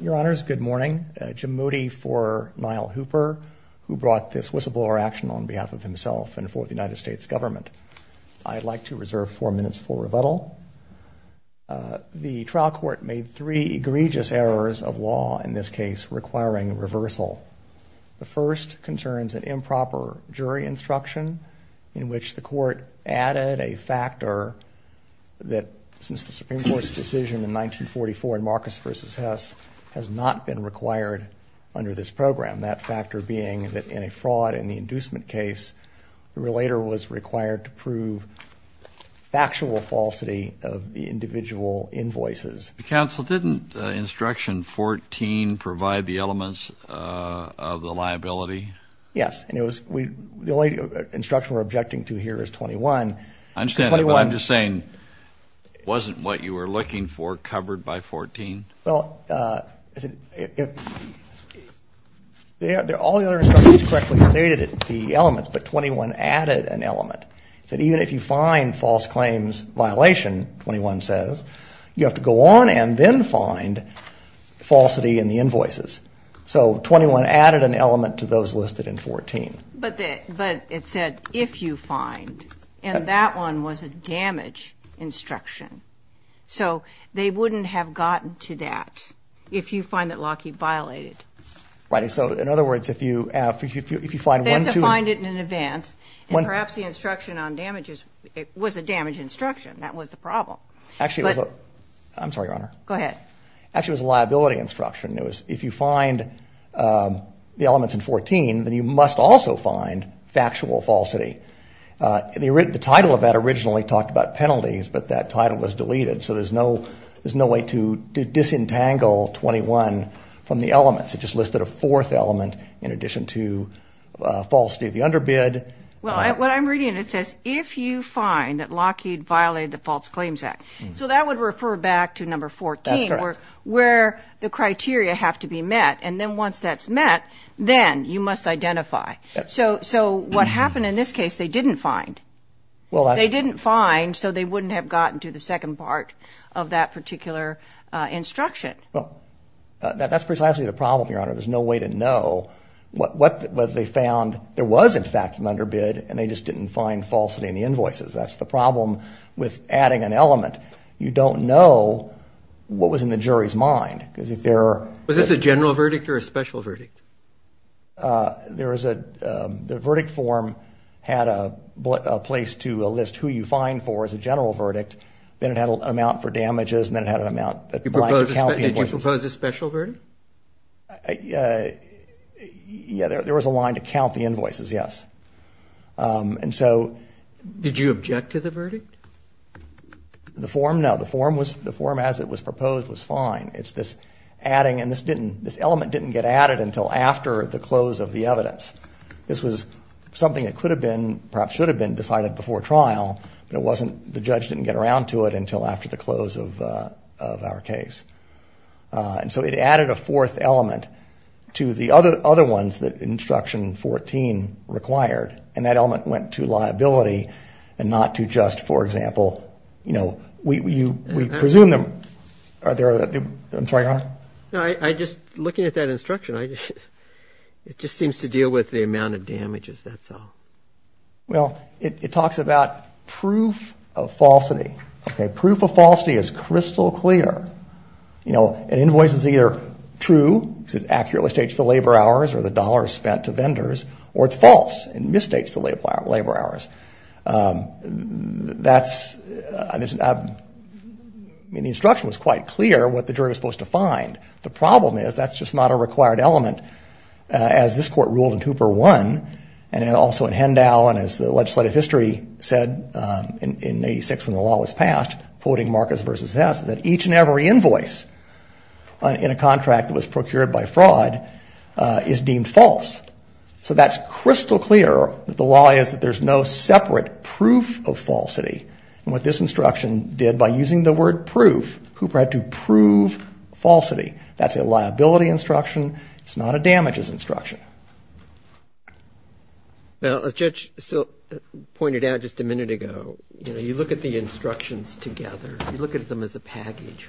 Your Honors, good morning. Jim Moody for Nyle Hooper, who brought this whistleblower action on behalf of himself and for the United States government. I'd like to reserve four minutes for rebuttal. The trial court made three egregious errors of law in this case requiring reversal. The first concerns an improper jury instruction in which the court added a factor that since the Supreme Court's decision in 1944 in Marcus v. Hess has not been required under this program, that factor being that in a fraud in the inducement case, the relator was required to prove factual falsity of the individual invoices. The counsel didn't instruction 14 provide the elements of the liability? Yes, and it was, the only instruction we're looking for covered by 14? Well, all the other instructions correctly stated the elements, but 21 added an element. It said even if you find false claims violation, 21 says, you have to go on and then find falsity in the invoices. So 21 added an element to those listed in 14. But it said if you find, and that one was a damage instruction. So they wouldn't have gotten to that if you find that Lockheed violated. Right. So in other words, if you have, if you find one, they have to find it in advance and perhaps the instruction on damages, it was a damage instruction. That was the problem. Actually, I'm sorry, Your Honor. Go ahead. Actually, it was a liability instruction. If you find the elements in 14, then you must also find factual falsity. The title of that originally talked about penalties, but that title was deleted. So there's no, there's no way to disentangle 21 from the elements. It just listed a fourth element in addition to falsity of the underbid. Well, what I'm reading, it says, if you find that Lockheed violated the False Claims Act. So that would refer back to number 14 where the in this case, they didn't find. They didn't find, so they wouldn't have gotten to the second part of that particular instruction. Well, that's precisely the problem, Your Honor. There's no way to know what they found. There was, in fact, an underbid, and they just didn't find falsity in the invoices. That's the problem with adding an element. You don't know what was in the jury's verdict. There was a, the verdict form had a place to list who you find for as a general verdict. Then it had an amount for damages, and then it had an amount. Did you propose a special verdict? Yeah, there was a line to count the invoices, yes. And so, did you object to the verdict? The form, no. The form was, the form as it was proposed was fine. It's this adding, and this didn't, this didn't get around to it until after the close of the evidence. This was something that could have been, perhaps should have been, decided before trial, but it wasn't, the judge didn't get around to it until after the close of, of our case. And so it added a fourth element to the other, other ones that instruction 14 required, and that element went to liability and not to just, for example, you know, we presume them, are there, I'm sorry, Your Honor? No, I just, looking at that instruction, I just, it just seems to deal with the amount of damages, that's all. Well, it talks about proof of falsity. Okay, proof of falsity is crystal clear. You know, an invoice is either true, because it accurately states the labor hours or the dollars spent to vendors, or it's false and I mean, the instruction was quite clear what the jury was supposed to find. The problem is, that's just not a required element. As this court ruled in Hooper 1, and also in Hendow, and as the legislative history said in 86 when the law was passed, quoting Marcus versus Hess, that each and every invoice in a contract that was procured by fraud is deemed false. So that's crystal clear that the law is that there's no separate proof of falsity. And what this instruction did, by using the word proof, Hooper had to prove falsity. That's a liability instruction, it's not a damages instruction. Well, as Judge Sill pointed out just a minute ago, you know, you look at the instructions together, you look at them as a package.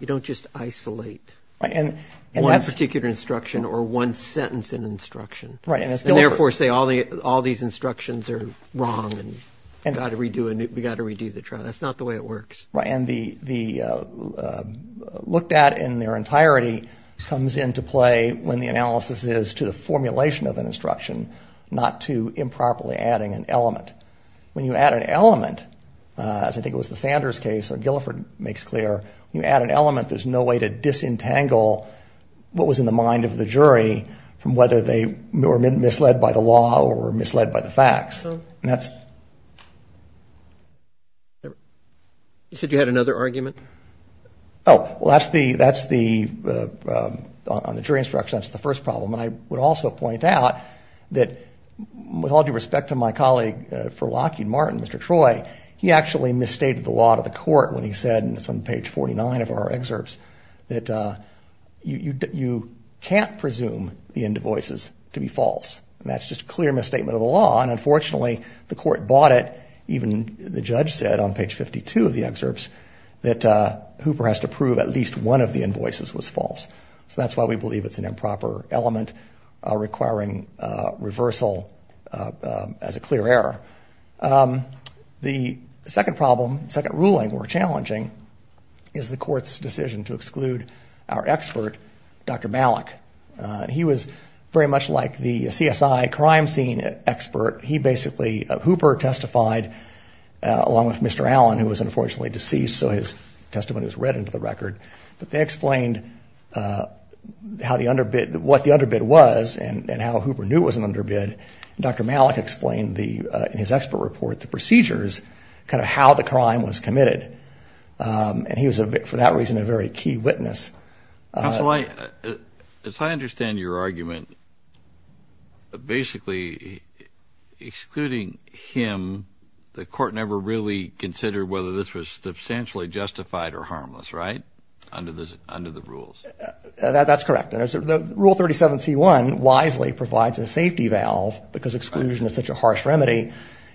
You don't just isolate one particular instruction or one sentence in instruction. Right. And therefore, say all these instructions are wrong and we've got to redo the trial. That's not the way it works. Right. And the looked at in their entirety comes into play when the analysis is to the formulation of an instruction, not to improperly adding an element. When you add an element, as I think it was the Sanders case, or Guilford makes clear, when you add an element, there's no way to disentangle what was in the mind of the jury from whether they were misled by the law or misled by the facts. You said you had another argument? Oh, well, that's the, that's the, on the jury instruction, that's the first problem. And I would also point out that with all due respect to my colleague for Lockheed Martin, Mr. Troy, he actually misstated the law to the court when he said, and it's on page 49 of our excerpts, that you can't presume the end of voices to be false. And that's just a clear misstatement of the law. And unfortunately, the court bought it. Even the judge said on page 52 of the excerpts that Hooper has to prove at least one of the invoices was false. So that's why we believe it's an improper element requiring reversal as a clear error. The second problem, second ruling, or challenging, is the court's decision to exclude our expert, Dr. Malik. He was very much like the CSI crime scene expert. He basically, Hooper testified, along with Mr. Allen, who was unfortunately deceased, so his testimony was read into the record. But they explained how the underbid, what the underbid was, and how Hooper knew it was an expert report, the procedures, kind of how the crime was committed. And he was, for that reason, a very key witness. Counsel, as I understand your argument, basically excluding him, the court never really considered whether this was substantially justified or harmless, right? Under the rules. That's correct. Rule 37c1 wisely provides a safety valve, because exclusion is such a harsh remedy,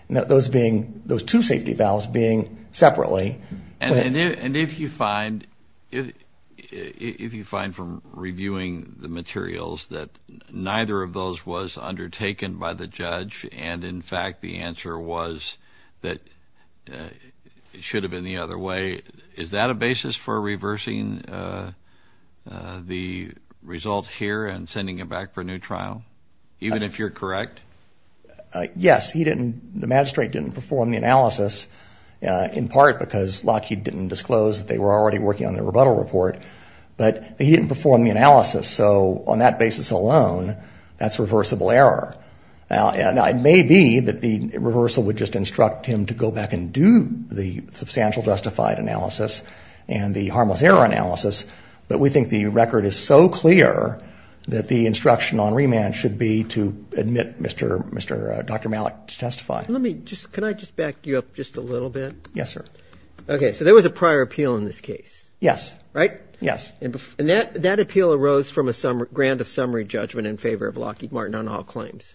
those being, those two safety valves being separately. And if you find, if you find from reviewing the materials that neither of those was undertaken by the judge, and in fact the answer was that it should have been the other way, is that a basis for reversing the result here and the magistrate didn't perform the analysis, in part because Lockheed didn't disclose that they were already working on the rebuttal report, but he didn't perform the analysis. So on that basis alone, that's reversible error. Now it may be that the reversal would just instruct him to go back and do the substantial justified analysis and the harmless error analysis, but we think the record is so clear that the instruction on remand should be to admit Mr. Dr. Malik to testify. Let me just, can I just back you up just a little bit? Yes, sir. Okay, so there was a prior appeal in this case. Yes. Right? Yes. And that appeal arose from a grant of summary judgment in favor of Lockheed Martin on all claims.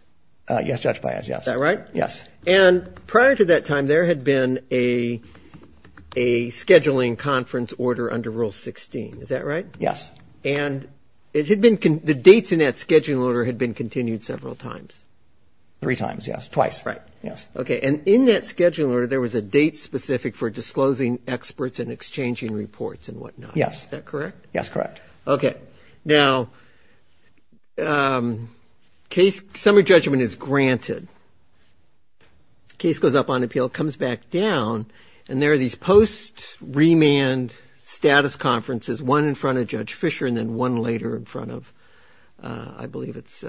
Yes, Judge Piaz, yes. Is that right? Yes. And prior to that time, there had been a scheduling conference order under Rule 16. Is that right? Yes. And it had been, the dates in that scheduling order had been continued several times. Three times, yes. Twice. Right. Yes. Okay. And in that scheduling order, there was a date specific for disclosing experts and exchanging reports and whatnot. Yes. Is that correct? Yes, correct. Okay. Now, case summary judgment is back down, and there are these post-remand status conferences, one in front of Judge Fischer and then one later in front of, I believe it's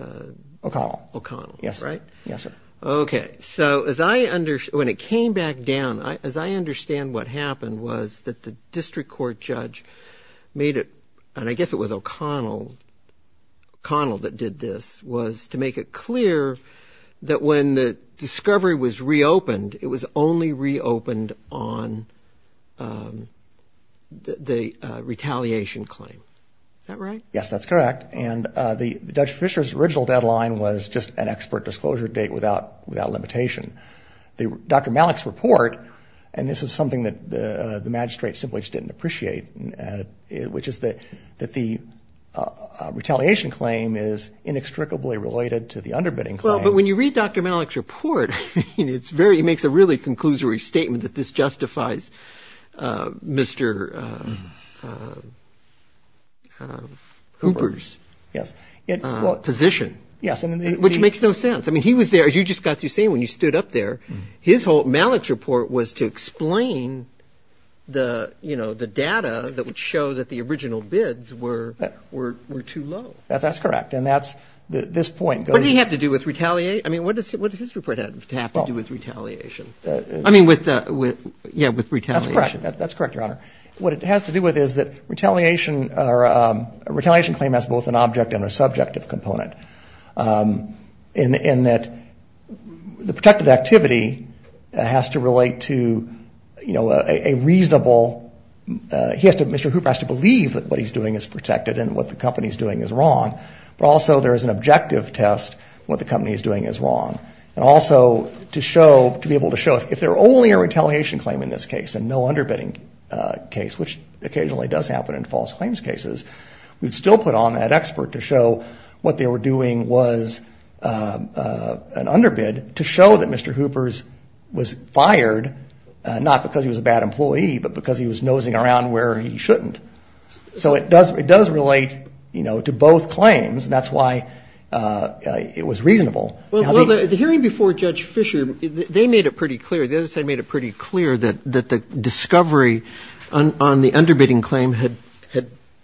O'Connell. O'Connell. Yes, sir. Right? Yes, sir. Okay. So as I understand, when it came back down, as I understand what happened was that the district court judge made it, and I guess it was O'Connell, O'Connell that did this, was to make it clear that when the discovery was reopened, it was only reopened on the retaliation claim. Is that right? Yes, that's correct. And Judge Fischer's original deadline was just an expert disclosure date without limitation. Dr. Malik's report, and this is something that the magistrate simply just didn't appreciate, which is that the retaliation claim is inextricably related to the underbidding claim. But when you read Dr. Malik's report, it's very, it makes a really conclusory statement that this justifies Mr. Hooper's position. Yes. Which makes no sense. I mean, he was there, as you just got through saying when you stood up there, his whole Malik's report was to explain the, you know, the data that would show that the original bids were too low. That's correct, and that's, this point goes. What did he have to do with retaliation? I mean, what does his report have to do with retaliation? I mean, with, yeah, with retaliation. That's correct, Your Honor. What it has to do with is that retaliation, or a retaliation claim has both an object and a subjective component, in that the protected activity has to relate to, you know, a reasonable, he has to, Mr. Hooper has to believe that what he's doing is protected and what the company is doing is wrong, but also there is an objective test what the company is doing is wrong, and also to show, to be able to show if there are only a retaliation claim in this case and no underbidding case, which occasionally does happen in false claims cases, we'd still put on that expert to show what they were doing was an underbid to show that Mr. Hooper's was fired, not because he was a bad employee, but because he was nosing around where he shouldn't. So it does, it does relate, you know, to both claims, and that's why it was reasonable. Well, the hearing before Judge Fisher, they made it pretty clear, the other side made it pretty clear that the discovery on the underbidding claim had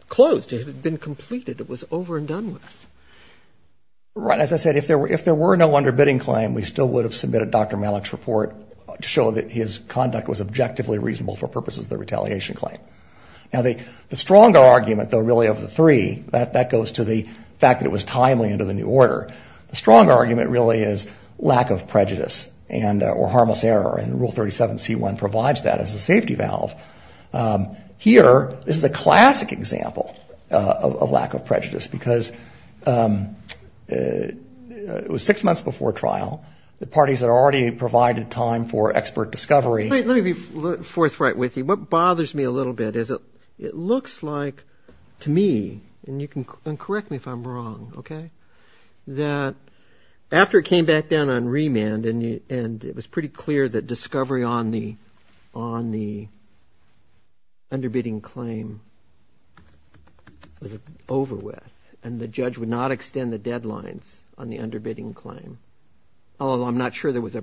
closed, it had been completed, it was over and done with. Right. As I said, if there were no underbidding claim, we still would have submitted Dr. Malik's report to show that his conduct was objectively reasonable for purposes of the retaliation claim. Now, the stronger argument, though, really of the three, that goes to the fact that it was timely under the new order. The stronger argument really is lack of prejudice and, or harmless error, and Rule 37C1 provides that as a safety valve. Here, this is a classic example of lack of prejudice, because it was six months before trial, the parties had already provided time for expert discovery. Let me be forthright with you. What bothers me a little bit is it looks like, to me, and you can correct me if I'm wrong, okay, that after it came back down on remand, and it was pretty clear that discovery on the underbidding claim was over with, and the judge would not extend the deadlines on the underbidding claim, although I'm not sure there was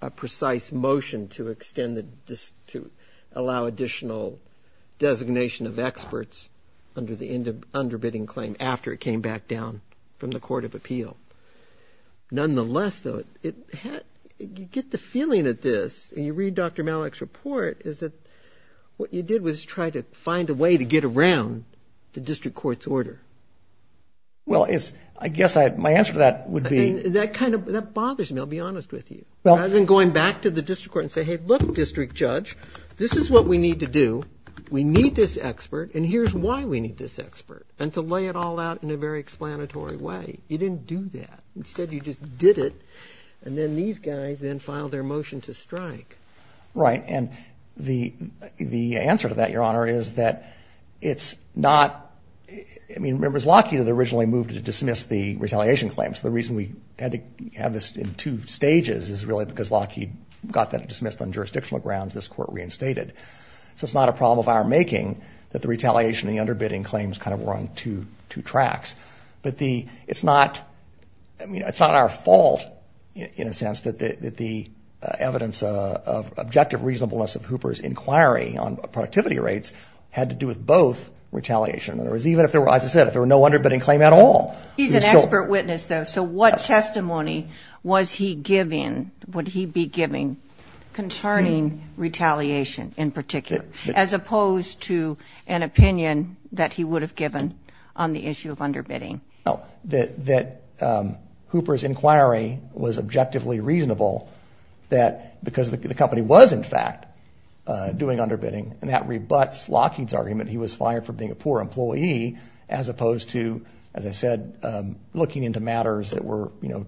a precise motion to extend, to allow additional designation of experts under the underbidding claim after it came back down from the Court of Appeal. Nonetheless, though, you get the feeling at this, and you read Dr. Malik's report, is that what you did was try to find a way to get around the district court's order. Well, it's, I guess my answer to that would be. I mean, that kind of, that bothers me, I'll be honest with you. Well. Rather than going back to the district court and say, hey, look, district judge, this is what we need to do, we need this expert, and here's why we need this expert, and to lay it all out in a very explanatory way. You didn't do that. Instead, you just did it, and then these guys then filed their motion to strike. Right, and the answer to that, Your Honor, is that it's not, I mean, it was Lockheed that originally moved to dismiss the retaliation claim, so the reason we had to have this in two stages is really because Lockheed got that dismissed on jurisdictional grounds, this court reinstated. So it's not a problem of our making that the retaliation and the underbidding claims kind of were on two tracks, but the, it's not, I mean, it's not our fault, in a sense, that the evidence of objective reasonableness of Hooper's inquiry on productivity rates had to do with both retaliation. In other words, even if there were, as I said, if there were no underbidding claim at all. He's an expert witness, though, so what testimony was he giving, would he be giving, concerning retaliation in particular, as opposed to an opinion that he would have given on the issue of underbidding? No, that Hooper's inquiry was objectively reasonable, that because the company was, in fact, doing underbidding, and that rebuts Lockheed's argument, he was fired for being a poor employee, as opposed to, as I said, looking into matters that were, you know,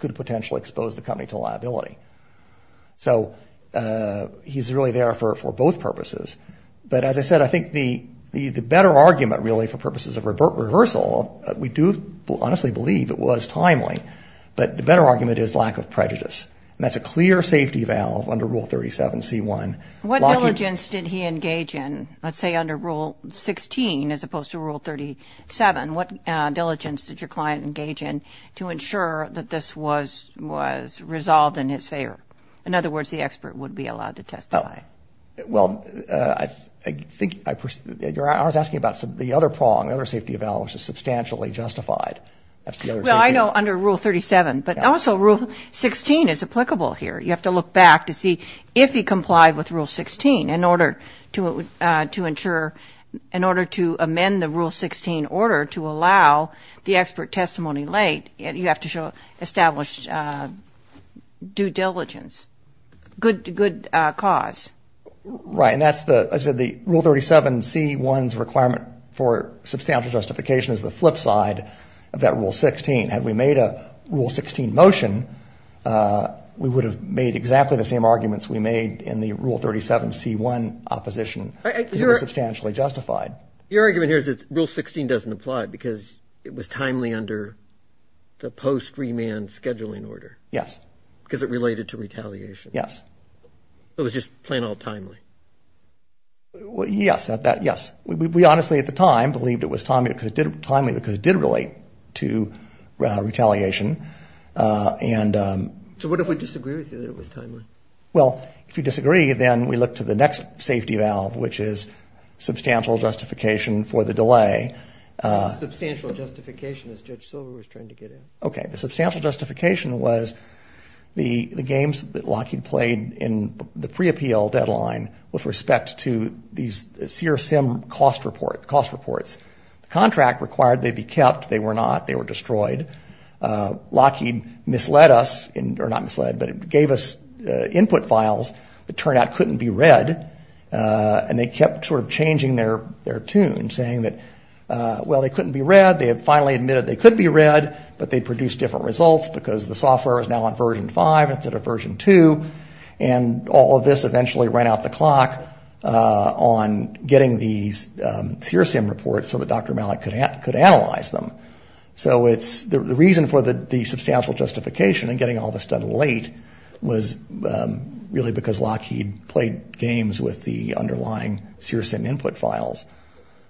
could potentially expose the company to liability. So he's really there for both purposes, but as I said, I think the better argument, really, for purposes of reversal, we do honestly believe it was timely, but the better argument is lack of prejudice, and that's a clear safety valve under Rule 37C1. What diligence did he engage in, let's say under Rule 16, as opposed to Rule 37? And what diligence did your client engage in to ensure that this was resolved in his favor? In other words, the expert would be allowed to testify. Well, I think, I was asking about the other prong, the other safety valve, which is substantially justified. Well, I know under Rule 37, but also Rule 16 is applicable here. You have to look back to see if he complied with Rule 16 in order to ensure, in order to amend the Rule 16 order to allow the expert testimony late, you have to show established due diligence. Good cause. Right. And that's the, as I said, the Rule 37C1's requirement for substantial justification is the flip side of that Rule 16. Had we made a Rule 16 motion, we would have made exactly the same arguments we made in the Rule 37C1 opposition. It was substantially justified. Your argument here is that Rule 16 doesn't apply because it was timely under the post-remand scheduling order. Yes. Because it related to retaliation. Yes. It was just plain old timely. Yes. Yes. We honestly, at the time, believed it was timely because it did relate to retaliation. So what if we disagree with you that it was timely? Well, if you disagree, then we look to the next safety valve, which is substantial justification for the delay. Substantial justification is Judge Silver was trying to get in. Okay. The substantial justification was the games that Lockheed played in the pre-appeal deadline with respect to these CR-SIM cost reports. The contract required they be kept. They were not. They were destroyed. Lockheed misled us, or not misled, but it gave us input files that turned out couldn't be read. And they kept sort of changing their tune, saying that, well, they couldn't be read. They had finally admitted they could be read, but they produced different results because the software was now on version 5 instead of version 2. And all of this eventually ran out the clock on getting these CR-SIM reports so that Dr. Malik could analyze them. So the reason for the substantial justification in getting all this done late was really because Lockheed played games with the underlying CR-SIM input files.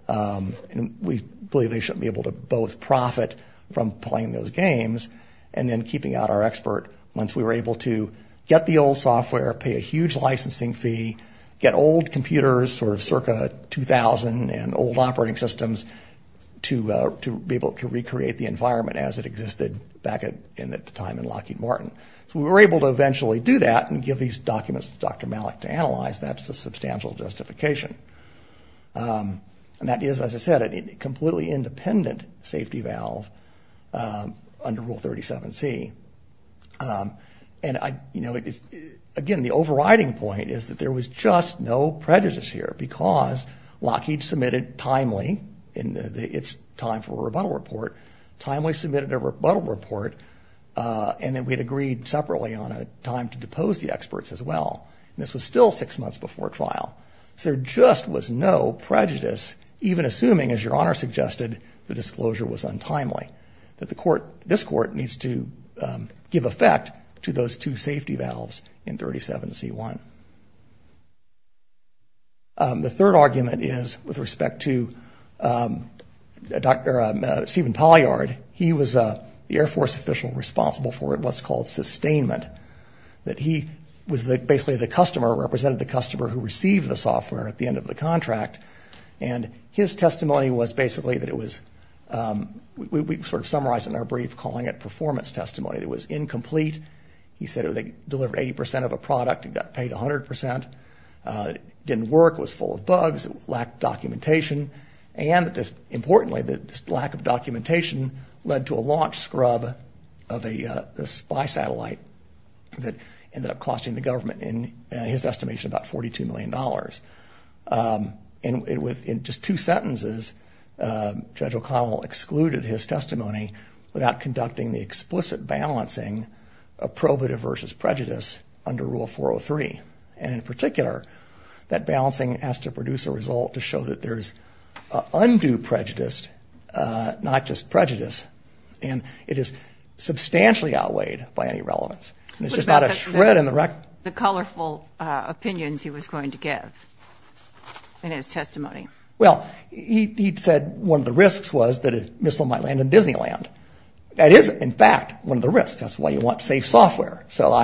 And we believe they should be able to both profit from playing those games and then keeping out our expert once we were able to get the old software, pay a huge licensing fee, get old computers, sort of circa 2000 and old operating systems to be able to recreate the environment as it existed back at the time in Lockheed Martin. So we were able to eventually do that and give these documents to Dr. Malik to analyze. That's a substantial justification. And that is, as I said, a completely independent safety valve under Rule 37C. And, you know, again, the overriding point is that there was just no prejudice here because Lockheed submitted timely, and it's time for a rebuttal report, timely submitted a rebuttal report, and then we had agreed separately on a time to depose the experts as well. And this was still six months before trial. So there just was no prejudice, even assuming, as Your Honor suggested, the disclosure was untimely. That the court, this court, needs to give effect to those two safety valves in 37C1. The third argument is with respect to Stephen Pollyard. He was the Air Force official responsible for what's called sustainment. That he was basically the customer, represented the customer who received the software at the end of the contract. And his testimony was basically that it was, we sort of summarized in our brief, calling it performance testimony. It was incomplete. He said they delivered 80% of a product and got paid 100%. It didn't work, it was full of bugs, it lacked documentation. And importantly, this lack of documentation led to a launch scrub of a spy satellite that ended up costing the government, in his estimation, about $42 million. In just two sentences, Judge O'Connell excluded his testimony without conducting the explicit balancing of probative versus prejudice under Rule 403. And in particular, that balancing has to produce a result to show that there's undue prejudice, not just prejudice. And it is substantially outweighed by any relevance. It's just not a shred in the record. What about the colorful opinions he was going to give in his testimony? Well, he said one of the risks was that a missile might land in Disneyland. That is, in fact, one of the risks. That's why you want safe software. So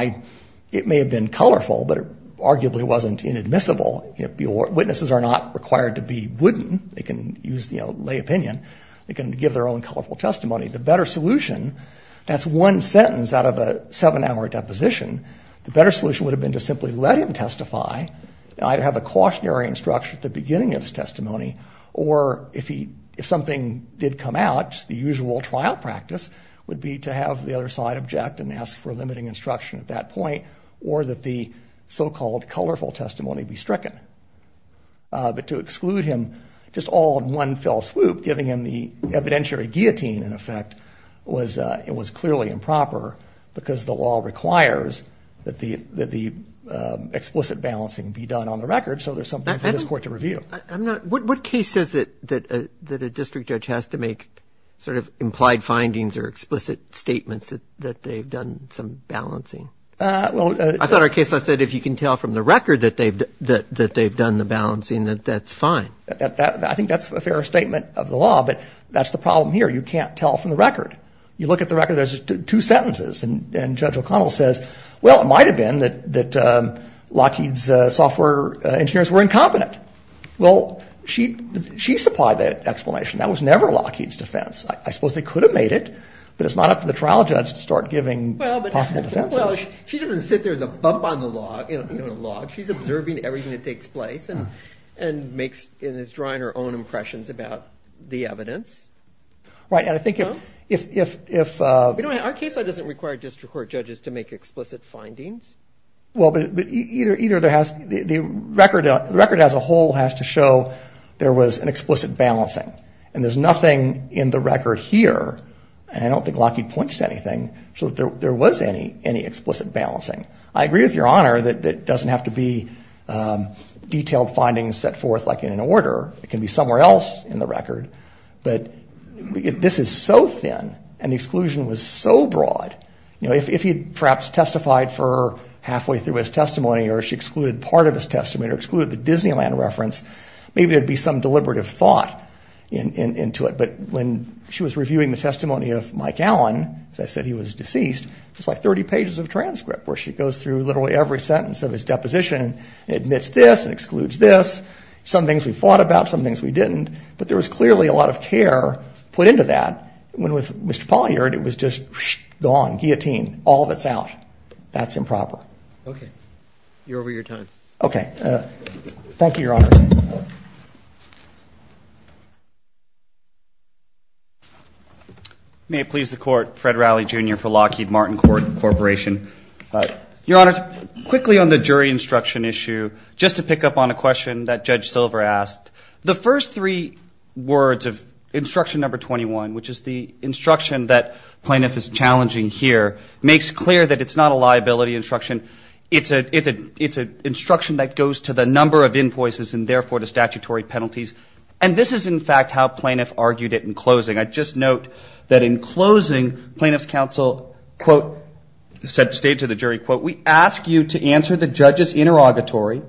it may have been colorful, but it arguably wasn't inadmissible. Witnesses are not required to be wooden. They can use lay opinion. They can give their own colorful testimony. The better solution, that's one sentence out of a seven-hour deposition. The better solution would have been to simply let him testify, either have a cautionary instruction at the beginning of his testimony, or if something did come out, just the usual trial practice, would be to have the other side object and ask for limiting instruction at that point, or that the so-called colorful testimony be stricken. But to exclude him, just all in one fell swoop, giving him the evidentiary guillotine, in effect, was clearly improper because the law requires that the explicit balancing be done on the record. So there's something for this court to review. What case is it that a district judge has to make sort of implied findings or explicit statements that they've done some balancing? I thought in our case I said if you can tell from the record that they've done the balancing, that that's fine. I think that's a fair statement of the law, but that's the problem here. You can't tell from the record. You look at the record, there's two sentences, and Judge O'Connell says, well, it might have been that Lockheed's software engineers were incompetent. Well, she supplied that explanation. That was never Lockheed's defense. I suppose they could have made it, but it's not up to the trial judge to start giving possible defenses. Well, she doesn't sit there as a bump on the log. She's observing everything that takes place and is drawing her own impressions about the evidence. Right, and I think if – Our case doesn't require district court judges to make explicit findings. Well, but either there has – the record as a whole has to show there was an explicit balancing, and there's nothing in the record here, and I don't think Lockheed points to anything, so that there was any explicit balancing. I agree with Your Honor that it doesn't have to be detailed findings set forth like in an order. It can be somewhere else in the record, but this is so thin, and the exclusion was so broad. If he had perhaps testified for her halfway through his testimony or she excluded part of his testimony or excluded the Disneyland reference, maybe there would be some deliberative thought into it, but when she was reviewing the testimony of Mike Allen, as I said he was deceased, it was like 30 pages of transcript where she goes through literally every sentence of his deposition and admits this and excludes this. Some things we thought about, some things we didn't, but there was clearly a lot of care put into that. When with Mr. Polyard, it was just gone, guillotine, all of it's out. That's improper. Okay, you're over your time. Okay. Thank you, Your Honor. May it please the Court, Fred Rowley, Jr. for Lockheed Martin Corporation. Your Honor, quickly on the jury instruction issue, just to pick up on a question that Judge Silver asked, the first three words of instruction number 21, which is the instruction that plaintiff is challenging here, makes clear that it's not a liability instruction. It's an instruction that goes to the number of invoices and therefore to statutory penalties. And this is, in fact, how plaintiff argued it in closing. I'd just note that in closing, plaintiff's counsel, quote, stated to the jury, quote, we ask you to answer the judge's interrogatory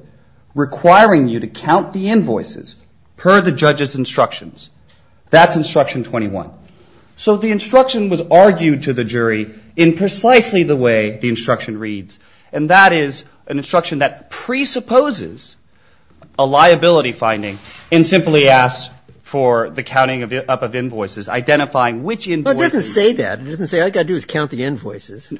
requiring you to count the invoices per the judge's instructions. That's instruction 21. So the instruction was argued to the jury in precisely the way the instruction reads, and that is an instruction that presupposes a liability finding and simply asks for the counting up of invoices, identifying which invoices. Well, it doesn't say that. It doesn't say all you've got to do is count the invoices.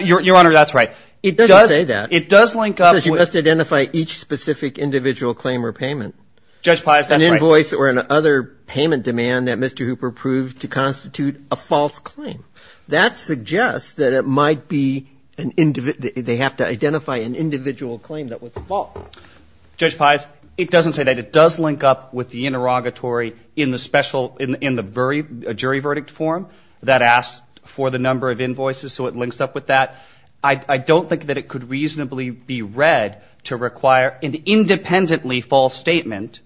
Your Honor, that's right. It doesn't say that. It does link up. It says you must identify each specific individual claim or payment. Judge Pius, that's right. An invoice or another payment demand that Mr. Hooper proved to constitute a false claim. That suggests that it might be an individual – they have to identify an individual claim that was false. Judge Pius, it doesn't say that. It does link up with the interrogatory in the special – in the jury verdict form that asks for the number of invoices, so it links up with that. I don't think that it could reasonably be read to require an independently false statement,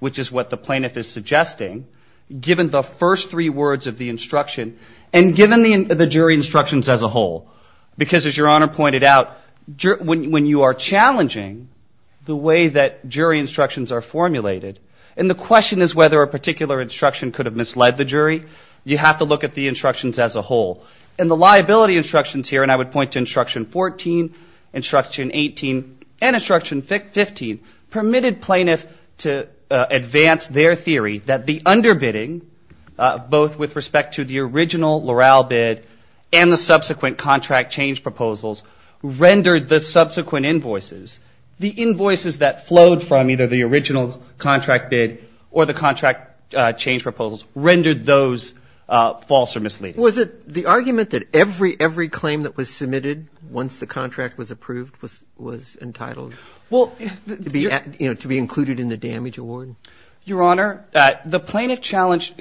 which is what the plaintiff is suggesting, given the first three words of the instruction and given the jury instructions as a whole. Because as Your Honor pointed out, when you are challenging the way that jury instructions are formulated, and the question is whether a particular instruction could have misled the jury, you have to look at the instructions as a whole. And the liability instructions here, and I would point to Instruction 14, Instruction 18, and Instruction 15, permitted plaintiffs to advance their theory that the underbidding, both with respect to the original Loral bid and the subsequent contract change proposals, rendered the subsequent invoices, the invoices that flowed from either the original contract bid or the contract change proposals, rendered those false or misleading. Was it the argument that every claim that was submitted once the contract was approved was entitled to be included in the damage award? Your Honor, the plaintiff challenged,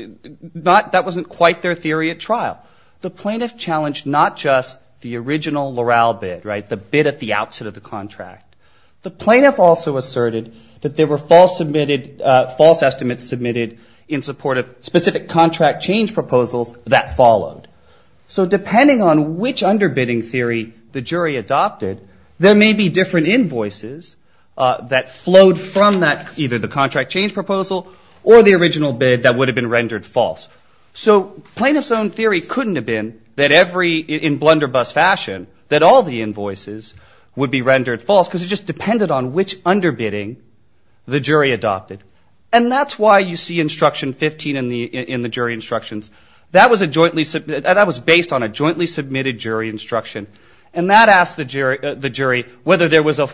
that wasn't quite their theory at trial. The plaintiff challenged not just the original Loral bid, right, the bid at the outset of the contract. The plaintiff also asserted that there were false estimates submitted in support of specific contract change proposals that followed. So depending on which underbidding theory the jury adopted, there may be different invoices that flowed from either the contract change proposal or the original bid that would have been rendered false. So plaintiff's own theory couldn't have been that every, in blunderbuss fashion, that all the invoices would be rendered false because it just depended on which underbidding the jury adopted. And that's why you see Instruction 15 in the jury instructions. That was a jointly, that was based on a jointly submitted jury instruction. And that asked the jury whether there was a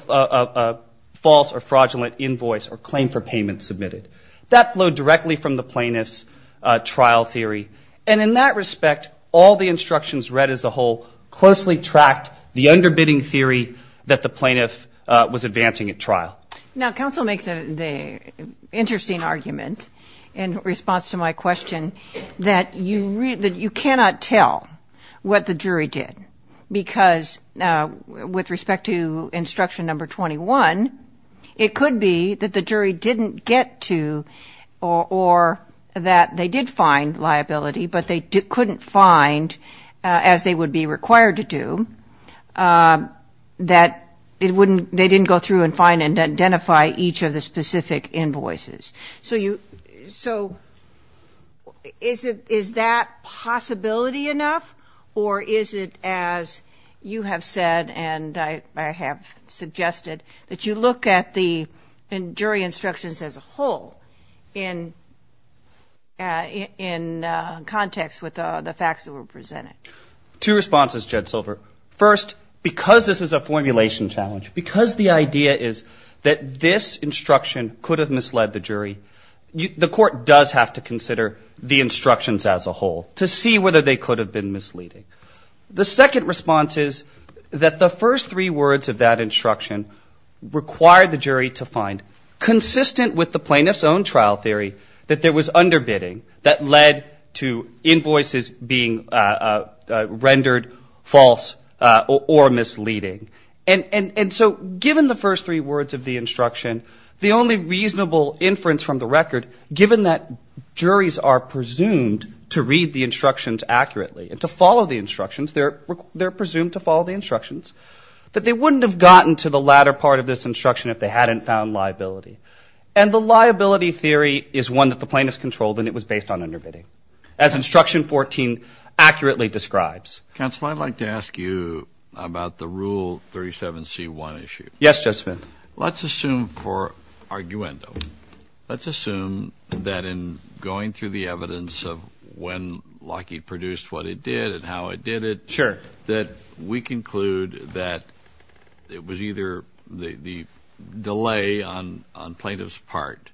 false or fraudulent invoice or claim for payment submitted. That flowed directly from the plaintiff's trial theory. And in that respect, all the instructions read as a whole closely tracked the underbidding theory that the plaintiff was advancing at trial. Now, counsel makes an interesting argument in response to my question that you cannot tell what the jury did, because with respect to Instruction Number 21, it could be that the jury didn't get to or that they did find liability, but they couldn't find, as they would be required to do, that it wouldn't, they didn't go through and find and identify each of the specific invoices. So you, so is it, is that possibility enough? Or is it, as you have said, and I have suggested, that you look at the jury instructions as a whole in context with the facts that were presented? Two responses, Jed Silver. First, because this is a formulation challenge, because the idea is that this instruction could have misled the jury, the court does have to consider the instructions as a whole to see whether they could have been misleading. The second response is that the first three words of that instruction required the jury to find consistent with the plaintiff's own trial theory that there was underbidding that led to invoices being rendered false or misleading. And so given the first three words of the instruction, the only reasonable inference from the record, given that juries are presumed to read the instructions accurately and to follow the instructions, they're presumed to follow the instructions, that they wouldn't have gotten to the latter part of this instruction if they hadn't found liability. And the liability theory is one that the plaintiff's controlled and it was based on underbidding, as Instruction 14 accurately describes. Counsel, I'd like to ask you about the Rule 37C1 issue. Yes, Judge Smith. Let's assume for arguendo, let's assume that in going through the evidence of when Lockheed produced what it did and how it did it, that we conclude that it was either the delay on plaintiff's part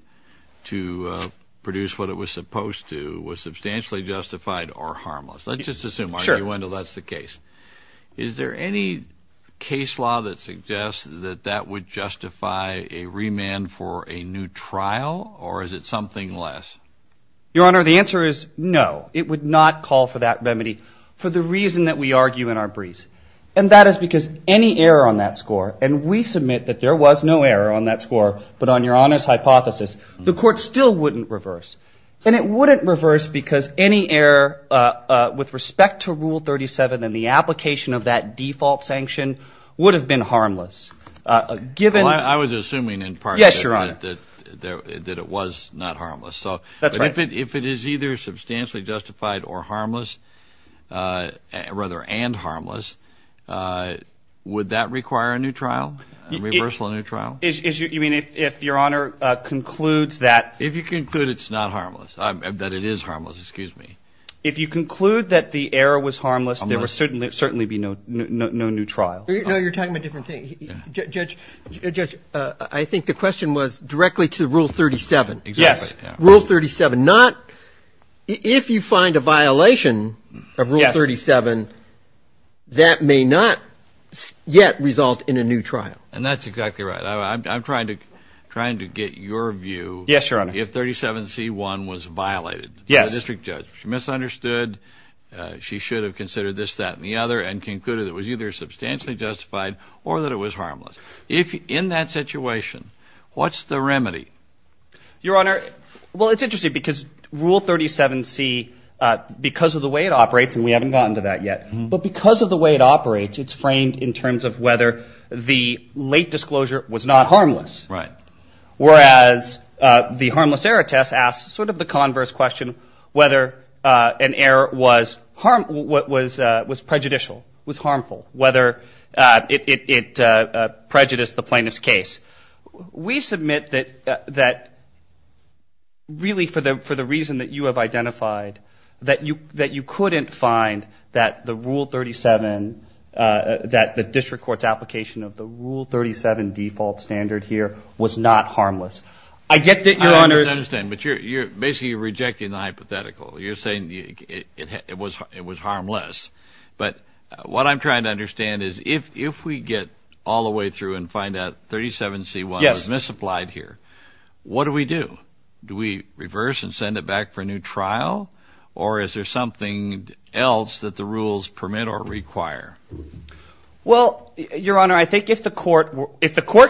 to produce what it was supposed to was substantially justified or harmless. Let's just assume, arguendo, that's the case. Is there any case law that suggests that that would justify a remand for a new trial, or is it something less? Your Honor, the answer is no. It would not call for that remedy for the reason that we argue in our briefs, and that is because any error on that score, and we submit that there was no error on that score, but on your Honor's hypothesis, the Court still wouldn't reverse. And it wouldn't reverse because any error with respect to Rule 37 and the application of that default sanction would have been harmless. I was assuming in part that it was not harmless. That's right. If it is either substantially justified or harmless, rather and harmless, would that require a new trial, a reversal of a new trial? You mean if your Honor concludes that? If you conclude it's not harmless, that it is harmless, excuse me. If you conclude that the error was harmless, there would certainly be no new trial. No, you're talking about a different thing. Judge, I think the question was directly to Rule 37. Yes. Rule 37, not if you find a violation of Rule 37, that may not yet result in a new trial. And that's exactly right. I'm trying to get your view. Yes, Your Honor. If 37C1 was violated by a district judge, she misunderstood, she should have considered this, that, and the other, and concluded it was either substantially justified or that it was harmless. In that situation, what's the remedy? Your Honor, well, it's interesting because Rule 37C, because of the way it operates, and we haven't gotten to that yet, but because of the way it operates, it's framed in terms of whether the late disclosure was not harmless. Right. Whereas the harmless error test asks sort of the converse question whether an error was harm, was prejudicial, was harmful, whether it prejudiced the plaintiff's case. We submit that really for the reason that you have identified, that you couldn't find that the Rule 37, that the district court's application of the Rule 37 default standard here was not harmless. I get that, Your Honor. I understand. But you're basically rejecting the hypothetical. You're saying it was harmless. But what I'm trying to understand is if we get all the way through and find out 37C1 was misapplied here, what do we do? Do we reverse and send it back for a new trial? Or is there something else that the rules permit or require? Well, Your Honor, I think if the court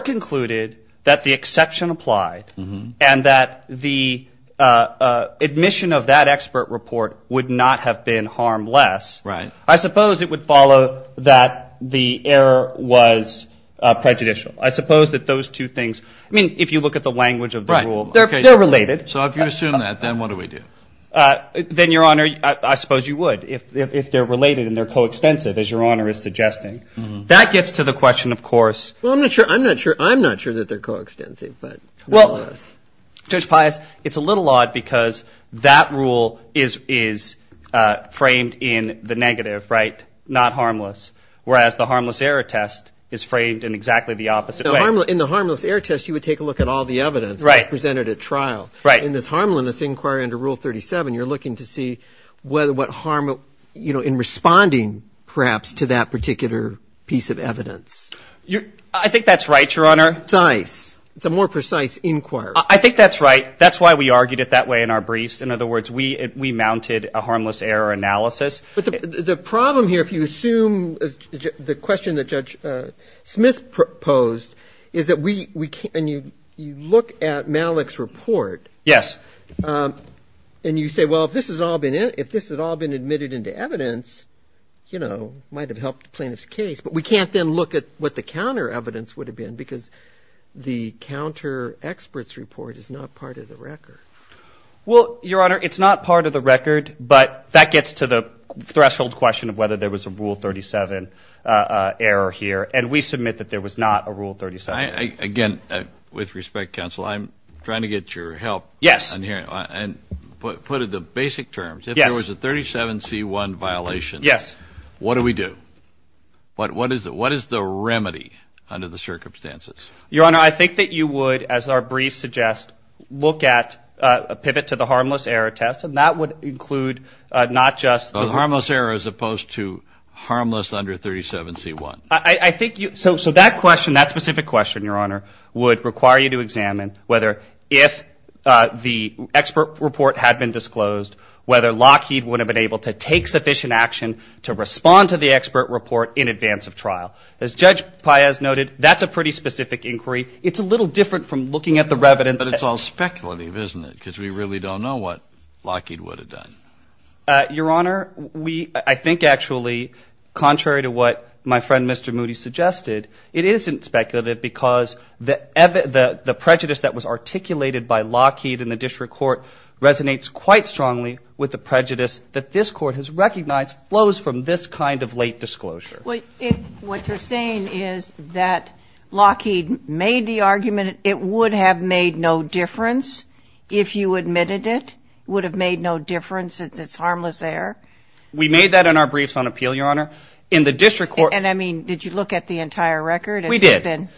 concluded that the exception applied, and that the admission of that expert report would not have been harmless, I suppose it would follow that the error was prejudicial. I suppose that those two things, I mean, if you look at the language of the rule, they're related. So if you assume that, then what do we do? Then, Your Honor, I suppose you would, if they're related and they're coextensive, as Your Honor is suggesting. That gets to the question, of course. Well, I'm not sure that they're coextensive. Judge Pius, it's a little odd because that rule is framed in the negative, right, not harmless. Whereas the harmless error test is framed in exactly the opposite way. In the harmless error test, you would take a look at all the evidence presented at trial. In this harmlessness inquiry under Rule 37, you're looking to see what harm, you know, in responding perhaps to that particular piece of evidence. I think that's right, Your Honor. It's a more precise inquiry. I think that's right. That's why we argued it that way in our briefs. In other words, we mounted a harmless error analysis. But the problem here, if you assume the question that Judge Smith proposed, is that we can't, and you look at Malik's report. Yes. And you say, well, if this had all been admitted into evidence, you know, it might have helped the plaintiff's case. But we can't then look at what the counter evidence would have been because the counter experts report is not part of the record. Well, Your Honor, it's not part of the record, but that gets to the threshold question of whether there was a Rule 37 error here. And we submit that there was not a Rule 37 error. Again, with respect, counsel, I'm trying to get your help. Yes. And put it to basic terms. If there was a 37C1 violation, what do we do? What is the remedy under the circumstances? Your Honor, I think that you would, as our briefs suggest, look at a pivot to the harmless error test, and that would include not just the harmless error as opposed to harmless under 37C1. I think so. So that question, that specific question, Your Honor, would require you to examine whether if the expert report had been disclosed, whether Lockheed would have been able to take sufficient action to respond to the expert report in advance of trial. As Judge Paez noted, that's a pretty specific inquiry. It's a little different from looking at the evidence. But it's all speculative, isn't it? Because we really don't know what Lockheed would have done. Your Honor, I think actually, contrary to what my friend Mr. Moody suggested, it isn't speculative because the prejudice that was articulated by Lockheed in the district court resonates quite strongly with the prejudice that this Court has recognized flows from this kind of late disclosure. What you're saying is that Lockheed made the argument it would have made no difference if you admitted it, would have made no difference, it's harmless error? We made that in our briefs on appeal, Your Honor. In the district court. And I mean, did you look at the entire record? We did.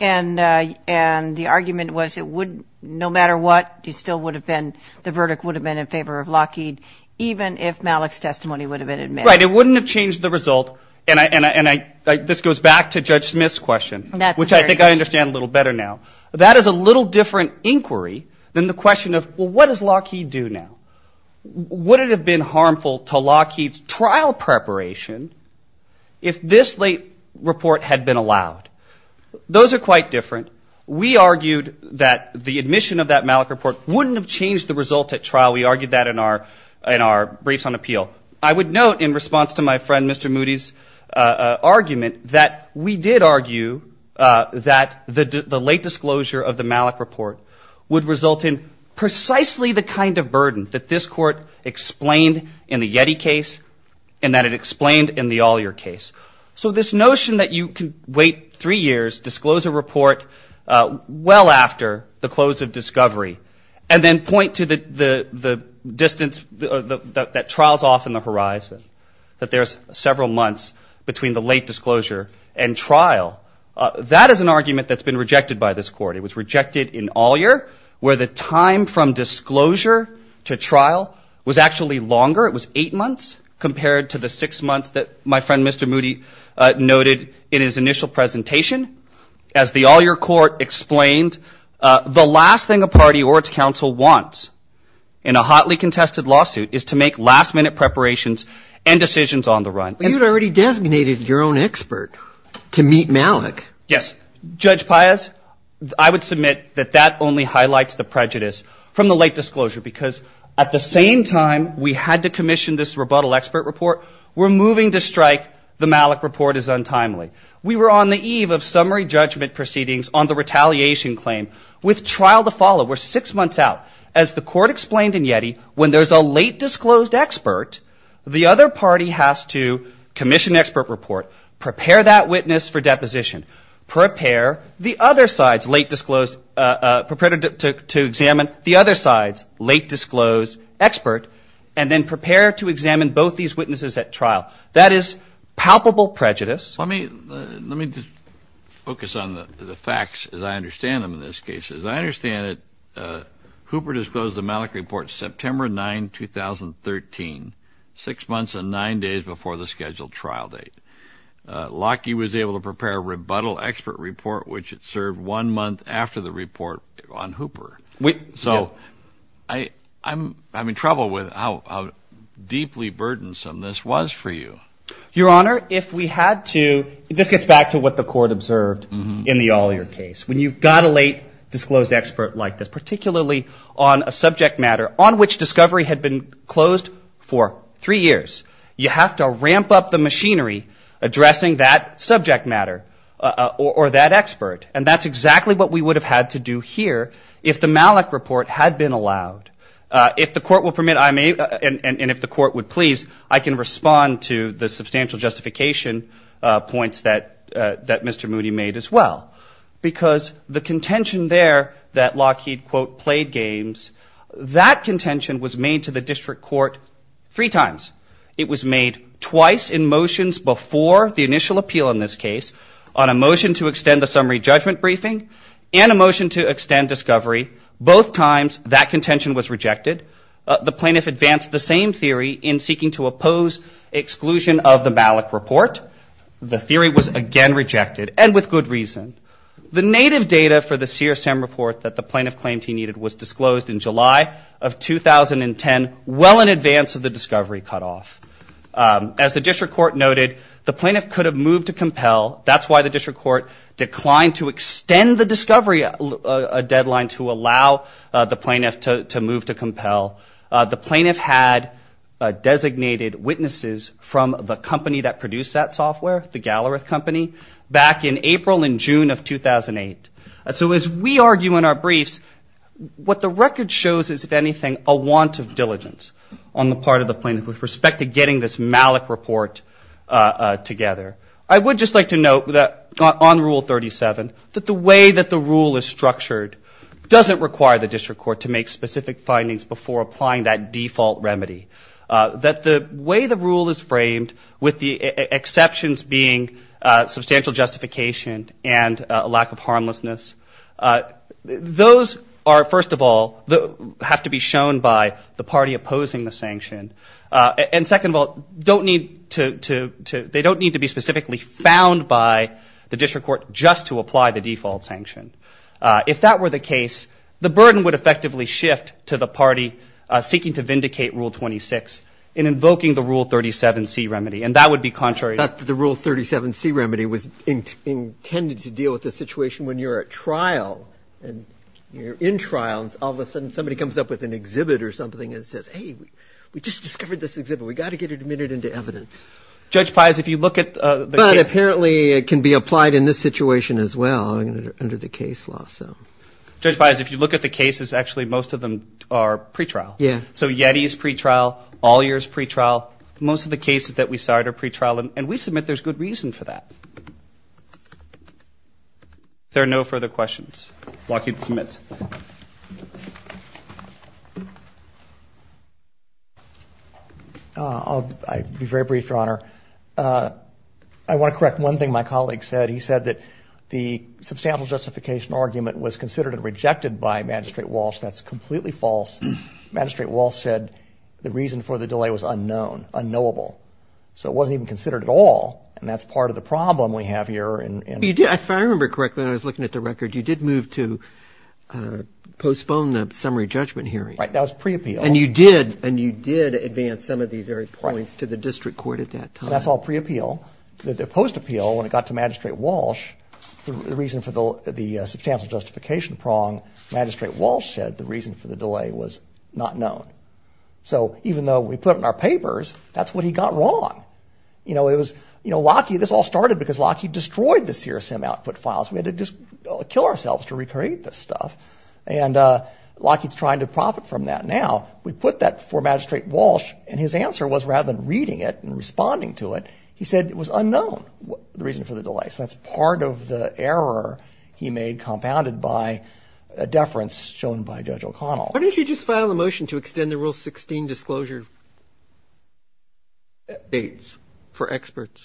And the argument was it would, no matter what, you still would have been, the verdict would have been in favor of Lockheed, even if Malik's testimony would have been admitted. Right, it wouldn't have changed the result, and this goes back to Judge Smith's question, which I think I understand a little better now. That is a little different inquiry than the question of, well, what does Lockheed do now? Would it have been harmful to Lockheed's trial preparation if this late report had been allowed? Those are quite different. We argued that the admission of that Malik report wouldn't have changed the result at trial. We argued that in our briefs on appeal. I would note, in response to my friend Mr. Moody's argument, that we did argue that the late disclosure of the Malik report would result in a trial. That is an argument that's been rejected by this court. It was rejected in Ollier, where the time from disclosure to trial was actually longer. It was eight months compared to the six months that my friend Mr. Moody noted in his initial presentation. As the Ollier court explained, the last thing a party or its counsel wants in a hotly contested lawsuit is to make last-minute preparations and decisions on the run. But you had already designated your own expert to meet Malik. Yes. Judge Pius, I would submit that that only highlights the prejudice from the late disclosure, because at the same time we had to commission this rebuttal expert report, we're moving to strike the Malik report as untimely. We were on the eve of summary judgment proceedings on the retaliation claim, with trial to follow. We're six months out. As the court explained in Yeti, when there's a late disclosed expert, the other party has to commission expert report, prepare that witness for deposition, prepare the other side's late disclosed, prepare to examine the other side's late disclosed expert, and then prepare to examine both these witnesses at trial. That is palpable prejudice. Let me just focus on the facts as I understand them in this case. As I understand it, Hooper disclosed the Malik report September 9, 2013, six months and nine days before the scheduled trial date. Lockheed was able to prepare a rebuttal expert report, which served one month after the report on Hooper. So I'm in trouble with how deeply burdensome this was for you. Your Honor, if we had to, this gets back to what the court observed in the Allier case. When you've got a late disclosed expert like this, particularly on a subject matter on which discovery had been closed for three years, you have to ramp up the machinery addressing that subject matter or that expert. And that's exactly what we would have had to do here if the Malik report had been allowed. If the court would permit, and if the court would please, I can respond to the substantial justification points that Mr. Moody made as well, because the contention there that Lockheed, quote, played games, that contention was made to the district court three times. It was made twice in motions before the initial appeal in this case on a motion to extend the summary judgment briefing and a motion to extend discovery. Both times that contention was rejected. The plaintiff advanced the same theory in seeking to oppose exclusion of the Malik report. The theory was again rejected, and with good reason. The native data for the CRCM report that the plaintiff claimed he needed was disclosed in July of 2010, well in advance of the discovery cutoff. As the district court noted, the plaintiff could have moved to compel. That's why the district court declined to extend the discovery deadline to allow the plaintiff to move to compel. The plaintiff had designated witnesses from the company that produced that software, the Galarith company. Back in April and June of 2008. So as we argue in our briefs, what the record shows is, if anything, a want of diligence on the part of the plaintiff with respect to getting this Malik report together. I would just like to note that on Rule 37, that the way that the rule is structured doesn't require the district court to make specific findings before applying that default remedy. That the way the rule is framed, with the exceptions being substantial justification and a lack of harmlessness, those are, first of all, have to be shown by the party opposing the sanction. And second of all, they don't need to be specifically found by the district court just to apply the default sanction. If that were the case, the burden would effectively shift to the party seeking to vindicate Rule 27. In invoking the Rule 37C remedy. And that would be contrary to the Rule 37C remedy was intended to deal with the situation when you're at trial. And you're in trial, and all of a sudden somebody comes up with an exhibit or something and says, hey, we just discovered this exhibit. We've got to get it admitted into evidence. But apparently it can be applied in this situation as well under the case law. Judge Baez, if you look at the cases, actually most of them are pretrial. So Yeti's pretrial, Allier's pretrial, most of the cases that we cite are pretrial. And we submit there's good reason for that. If there are no further questions. I'll be very brief, Your Honor. I want to correct one thing my colleague said. He said that the substantial justification argument was considered and rejected by Magistrate Walsh. That's completely false. Magistrate Walsh said the reason for the delay was unknown, unknowable. So it wasn't even considered at all. And that's part of the problem we have here. If I remember correctly, I was looking at the record, you did move to postpone the summary judgment hearing. Right, that was pre-appeal. That's all pre-appeal. The post-appeal, when it got to Magistrate Walsh, the reason for the substantial justification prong, Magistrate Walsh said the reason for the delay was not known. So even though we put it in our papers, that's what he got wrong. You know, it was, you know, Lockheed, this all started because Lockheed destroyed the CRSIM output files. We had to just kill ourselves to recreate this stuff. And Lockheed's trying to profit from that now. We put that before Magistrate Walsh, and his answer was, rather than reading it and responding to it, he said it was unknown, the reason for the delay. So that's part of the error he made compounded by a deference shown by Judge O'Connell. Why didn't you just file a motion to extend the Rule 16 disclosure dates for experts?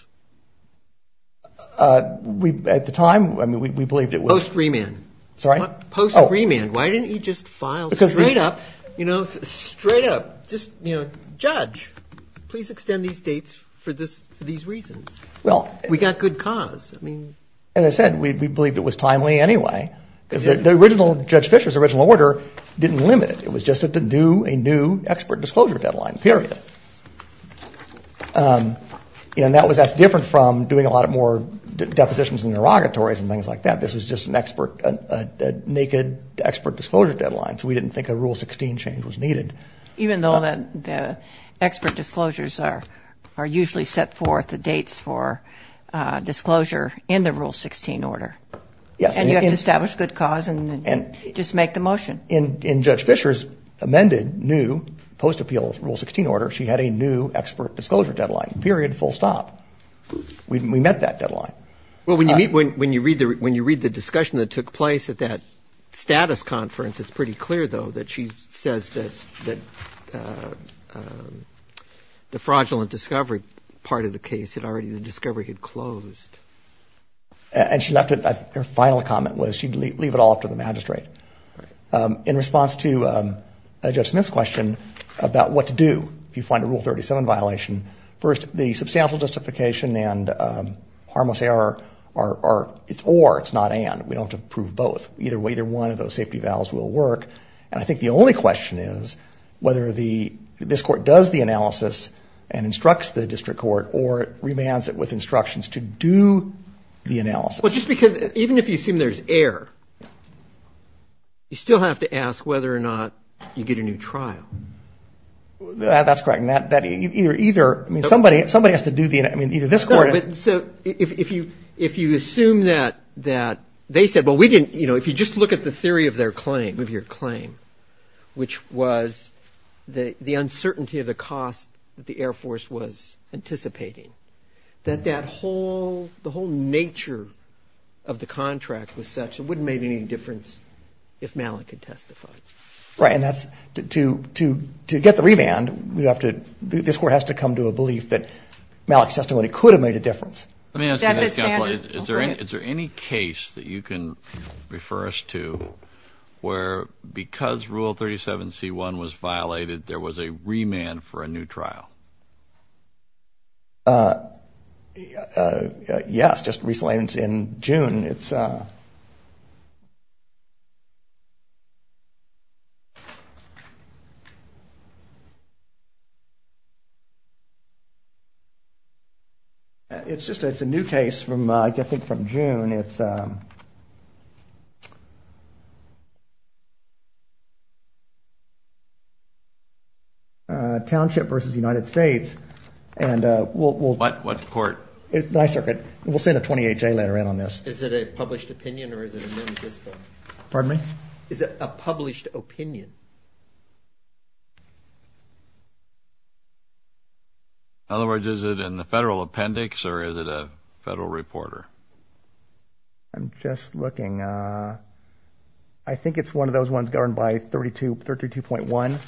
At the time, I mean, we believed it was. Post-remand. Why didn't you just file straight up, you know, straight up, just, you know, Judge, please extend these dates for these reasons. We got good cause. As I said, we believed it was timely anyway. Because the original, Judge Fischer's original order didn't limit it. It was just a new expert disclosure deadline, period. And that's different from doing a lot more depositions and derogatories and things like that. This was just a naked expert disclosure deadline. So we didn't think a Rule 16 change was needed. Even though the expert disclosures are usually set forth, the dates for disclosure in the Rule 16 order. And you have to establish good cause and just make the motion. In Judge Fischer's amended, new, post-appeal Rule 16 order, she had a new expert disclosure deadline, period, full stop. We met that deadline. When you read the discussion that took place at that status conference, it's pretty clear, though, that she says that the fraudulent discovery part of the case, that already the discovery had closed. And her final comment was she'd leave it all up to the magistrate. In response to Judge Smith's question about what to do if you find a Rule 37 violation, first, the substantial justification and harmless error are, it's or, it's not and. We don't have to prove both. Either way, either one of those safety valves will work. And I think the only question is whether this court does the analysis and instructs the district court or remands it with instructions to do the analysis. Well, just because, even if you assume there's error, you still have to ask whether or not you get a new trial. That's correct. And that either, I mean, somebody has to do the, I mean, either this court. So if you assume that they said, well, we didn't, you know, if you just look at the theory of their claim, of your claim, which was the uncertainty of the cost that the Air Force was anticipating, that that whole, the whole nature of the contract was such, it wouldn't make any difference if Malik had testified. Right. And that's, to get the remand, we'd have to, this court has to come to a belief that Malik's testimony could have made a difference. Let me ask you, is there any case that you can refer us to where because Rule 37C1 was violated, there was a remand for a new trial? Yes. Just recently in June. It's just, it's a new case from, I think, from June. It's Township versus United States. What court? Ninth Circuit. We'll send a 28-J letter in on this. Is it a published opinion? In other words, is it in the federal appendix or is it a federal reporter? I'm just looking. I think it's one of those ones governed by 32.1,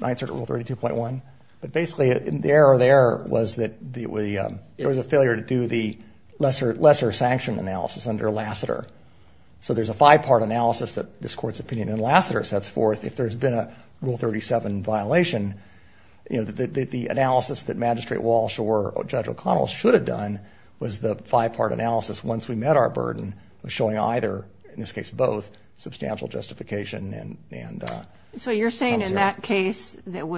Ninth Circuit Rule 32.1. But basically, the error there was that there was a failure to do the lesser sanction analysis under Lassiter. So there's a five-part analysis that this court's opinion in Lassiter sets forth. If there's been a Rule 37 violation, the analysis that Magistrate Walsh or Judge O'Connell should have done was the five-part analysis. Once we met our burden, it was showing either, in this case both, substantial justification. So you're saying in that case it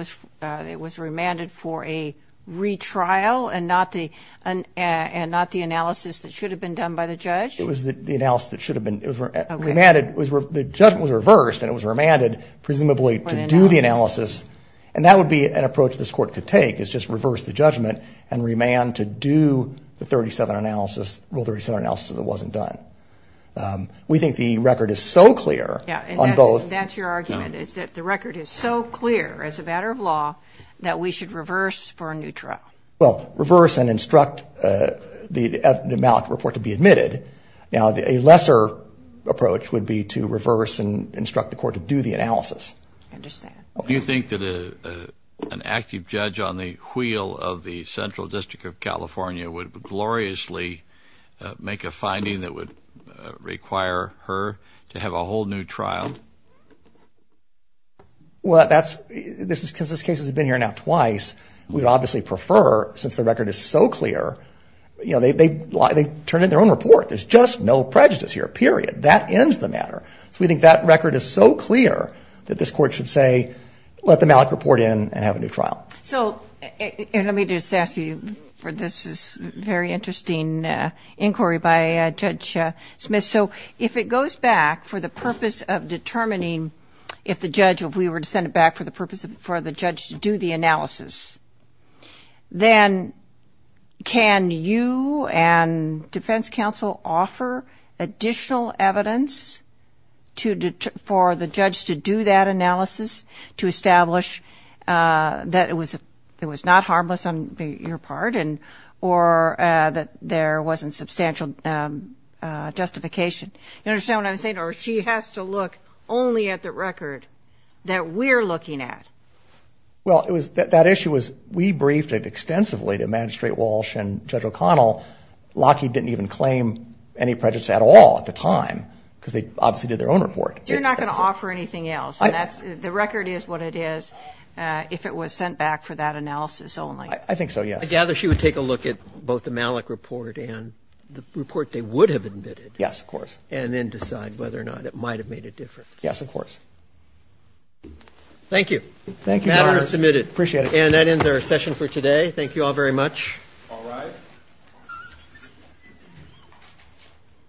was remanded for a retrial, and not the analysis that should have been done by the judge? It was the analysis that should have been. The judgment was reversed and it was remanded, presumably, to do the analysis. And that would be an approach this court could take, is just reverse the judgment and remand to do the Rule 37 analysis that wasn't done. We think the record is so clear on both. That's your argument, is that the record is so clear as a matter of law that we should reverse for a new trial. Well, reverse and instruct the malic report to be admitted. Now, a lesser approach would be to reverse and instruct the court to do the analysis. Do you think that an active judge on the wheel of the Central District of California would gloriously make a finding that would require her to have a whole new trial? Well, because this case has been here now twice, we would obviously prefer, since the record is so clear, they turn in their own report. There's just no prejudice here, period. That ends the matter. So we think that record is so clear that this court should say, let the malic report in and have a new trial. And let me just ask you, this is a very interesting inquiry by Judge Smith. So if it goes back for the purpose of determining if the judge, if we were to send it back for the purpose for the judge to do the analysis, then can you and defense counsel offer additional evidence for the judge to do that analysis to establish that it was not harmless on your part or that there wasn't substantial justification? You understand what I'm saying? Or she has to look only at the record that we're looking at. Well, that issue was, we briefed it extensively to Magistrate Walsh and Judge O'Connell. Lockheed didn't even claim any prejudice at all at the time, because they obviously did their own report. You're not going to offer anything else. The record is what it is if it was sent back for that analysis only. I gather she would take a look at both the malic report and the report they would have admitted. Yes, of course. And then decide whether or not it might have made a difference. Yes, of course. Thank you.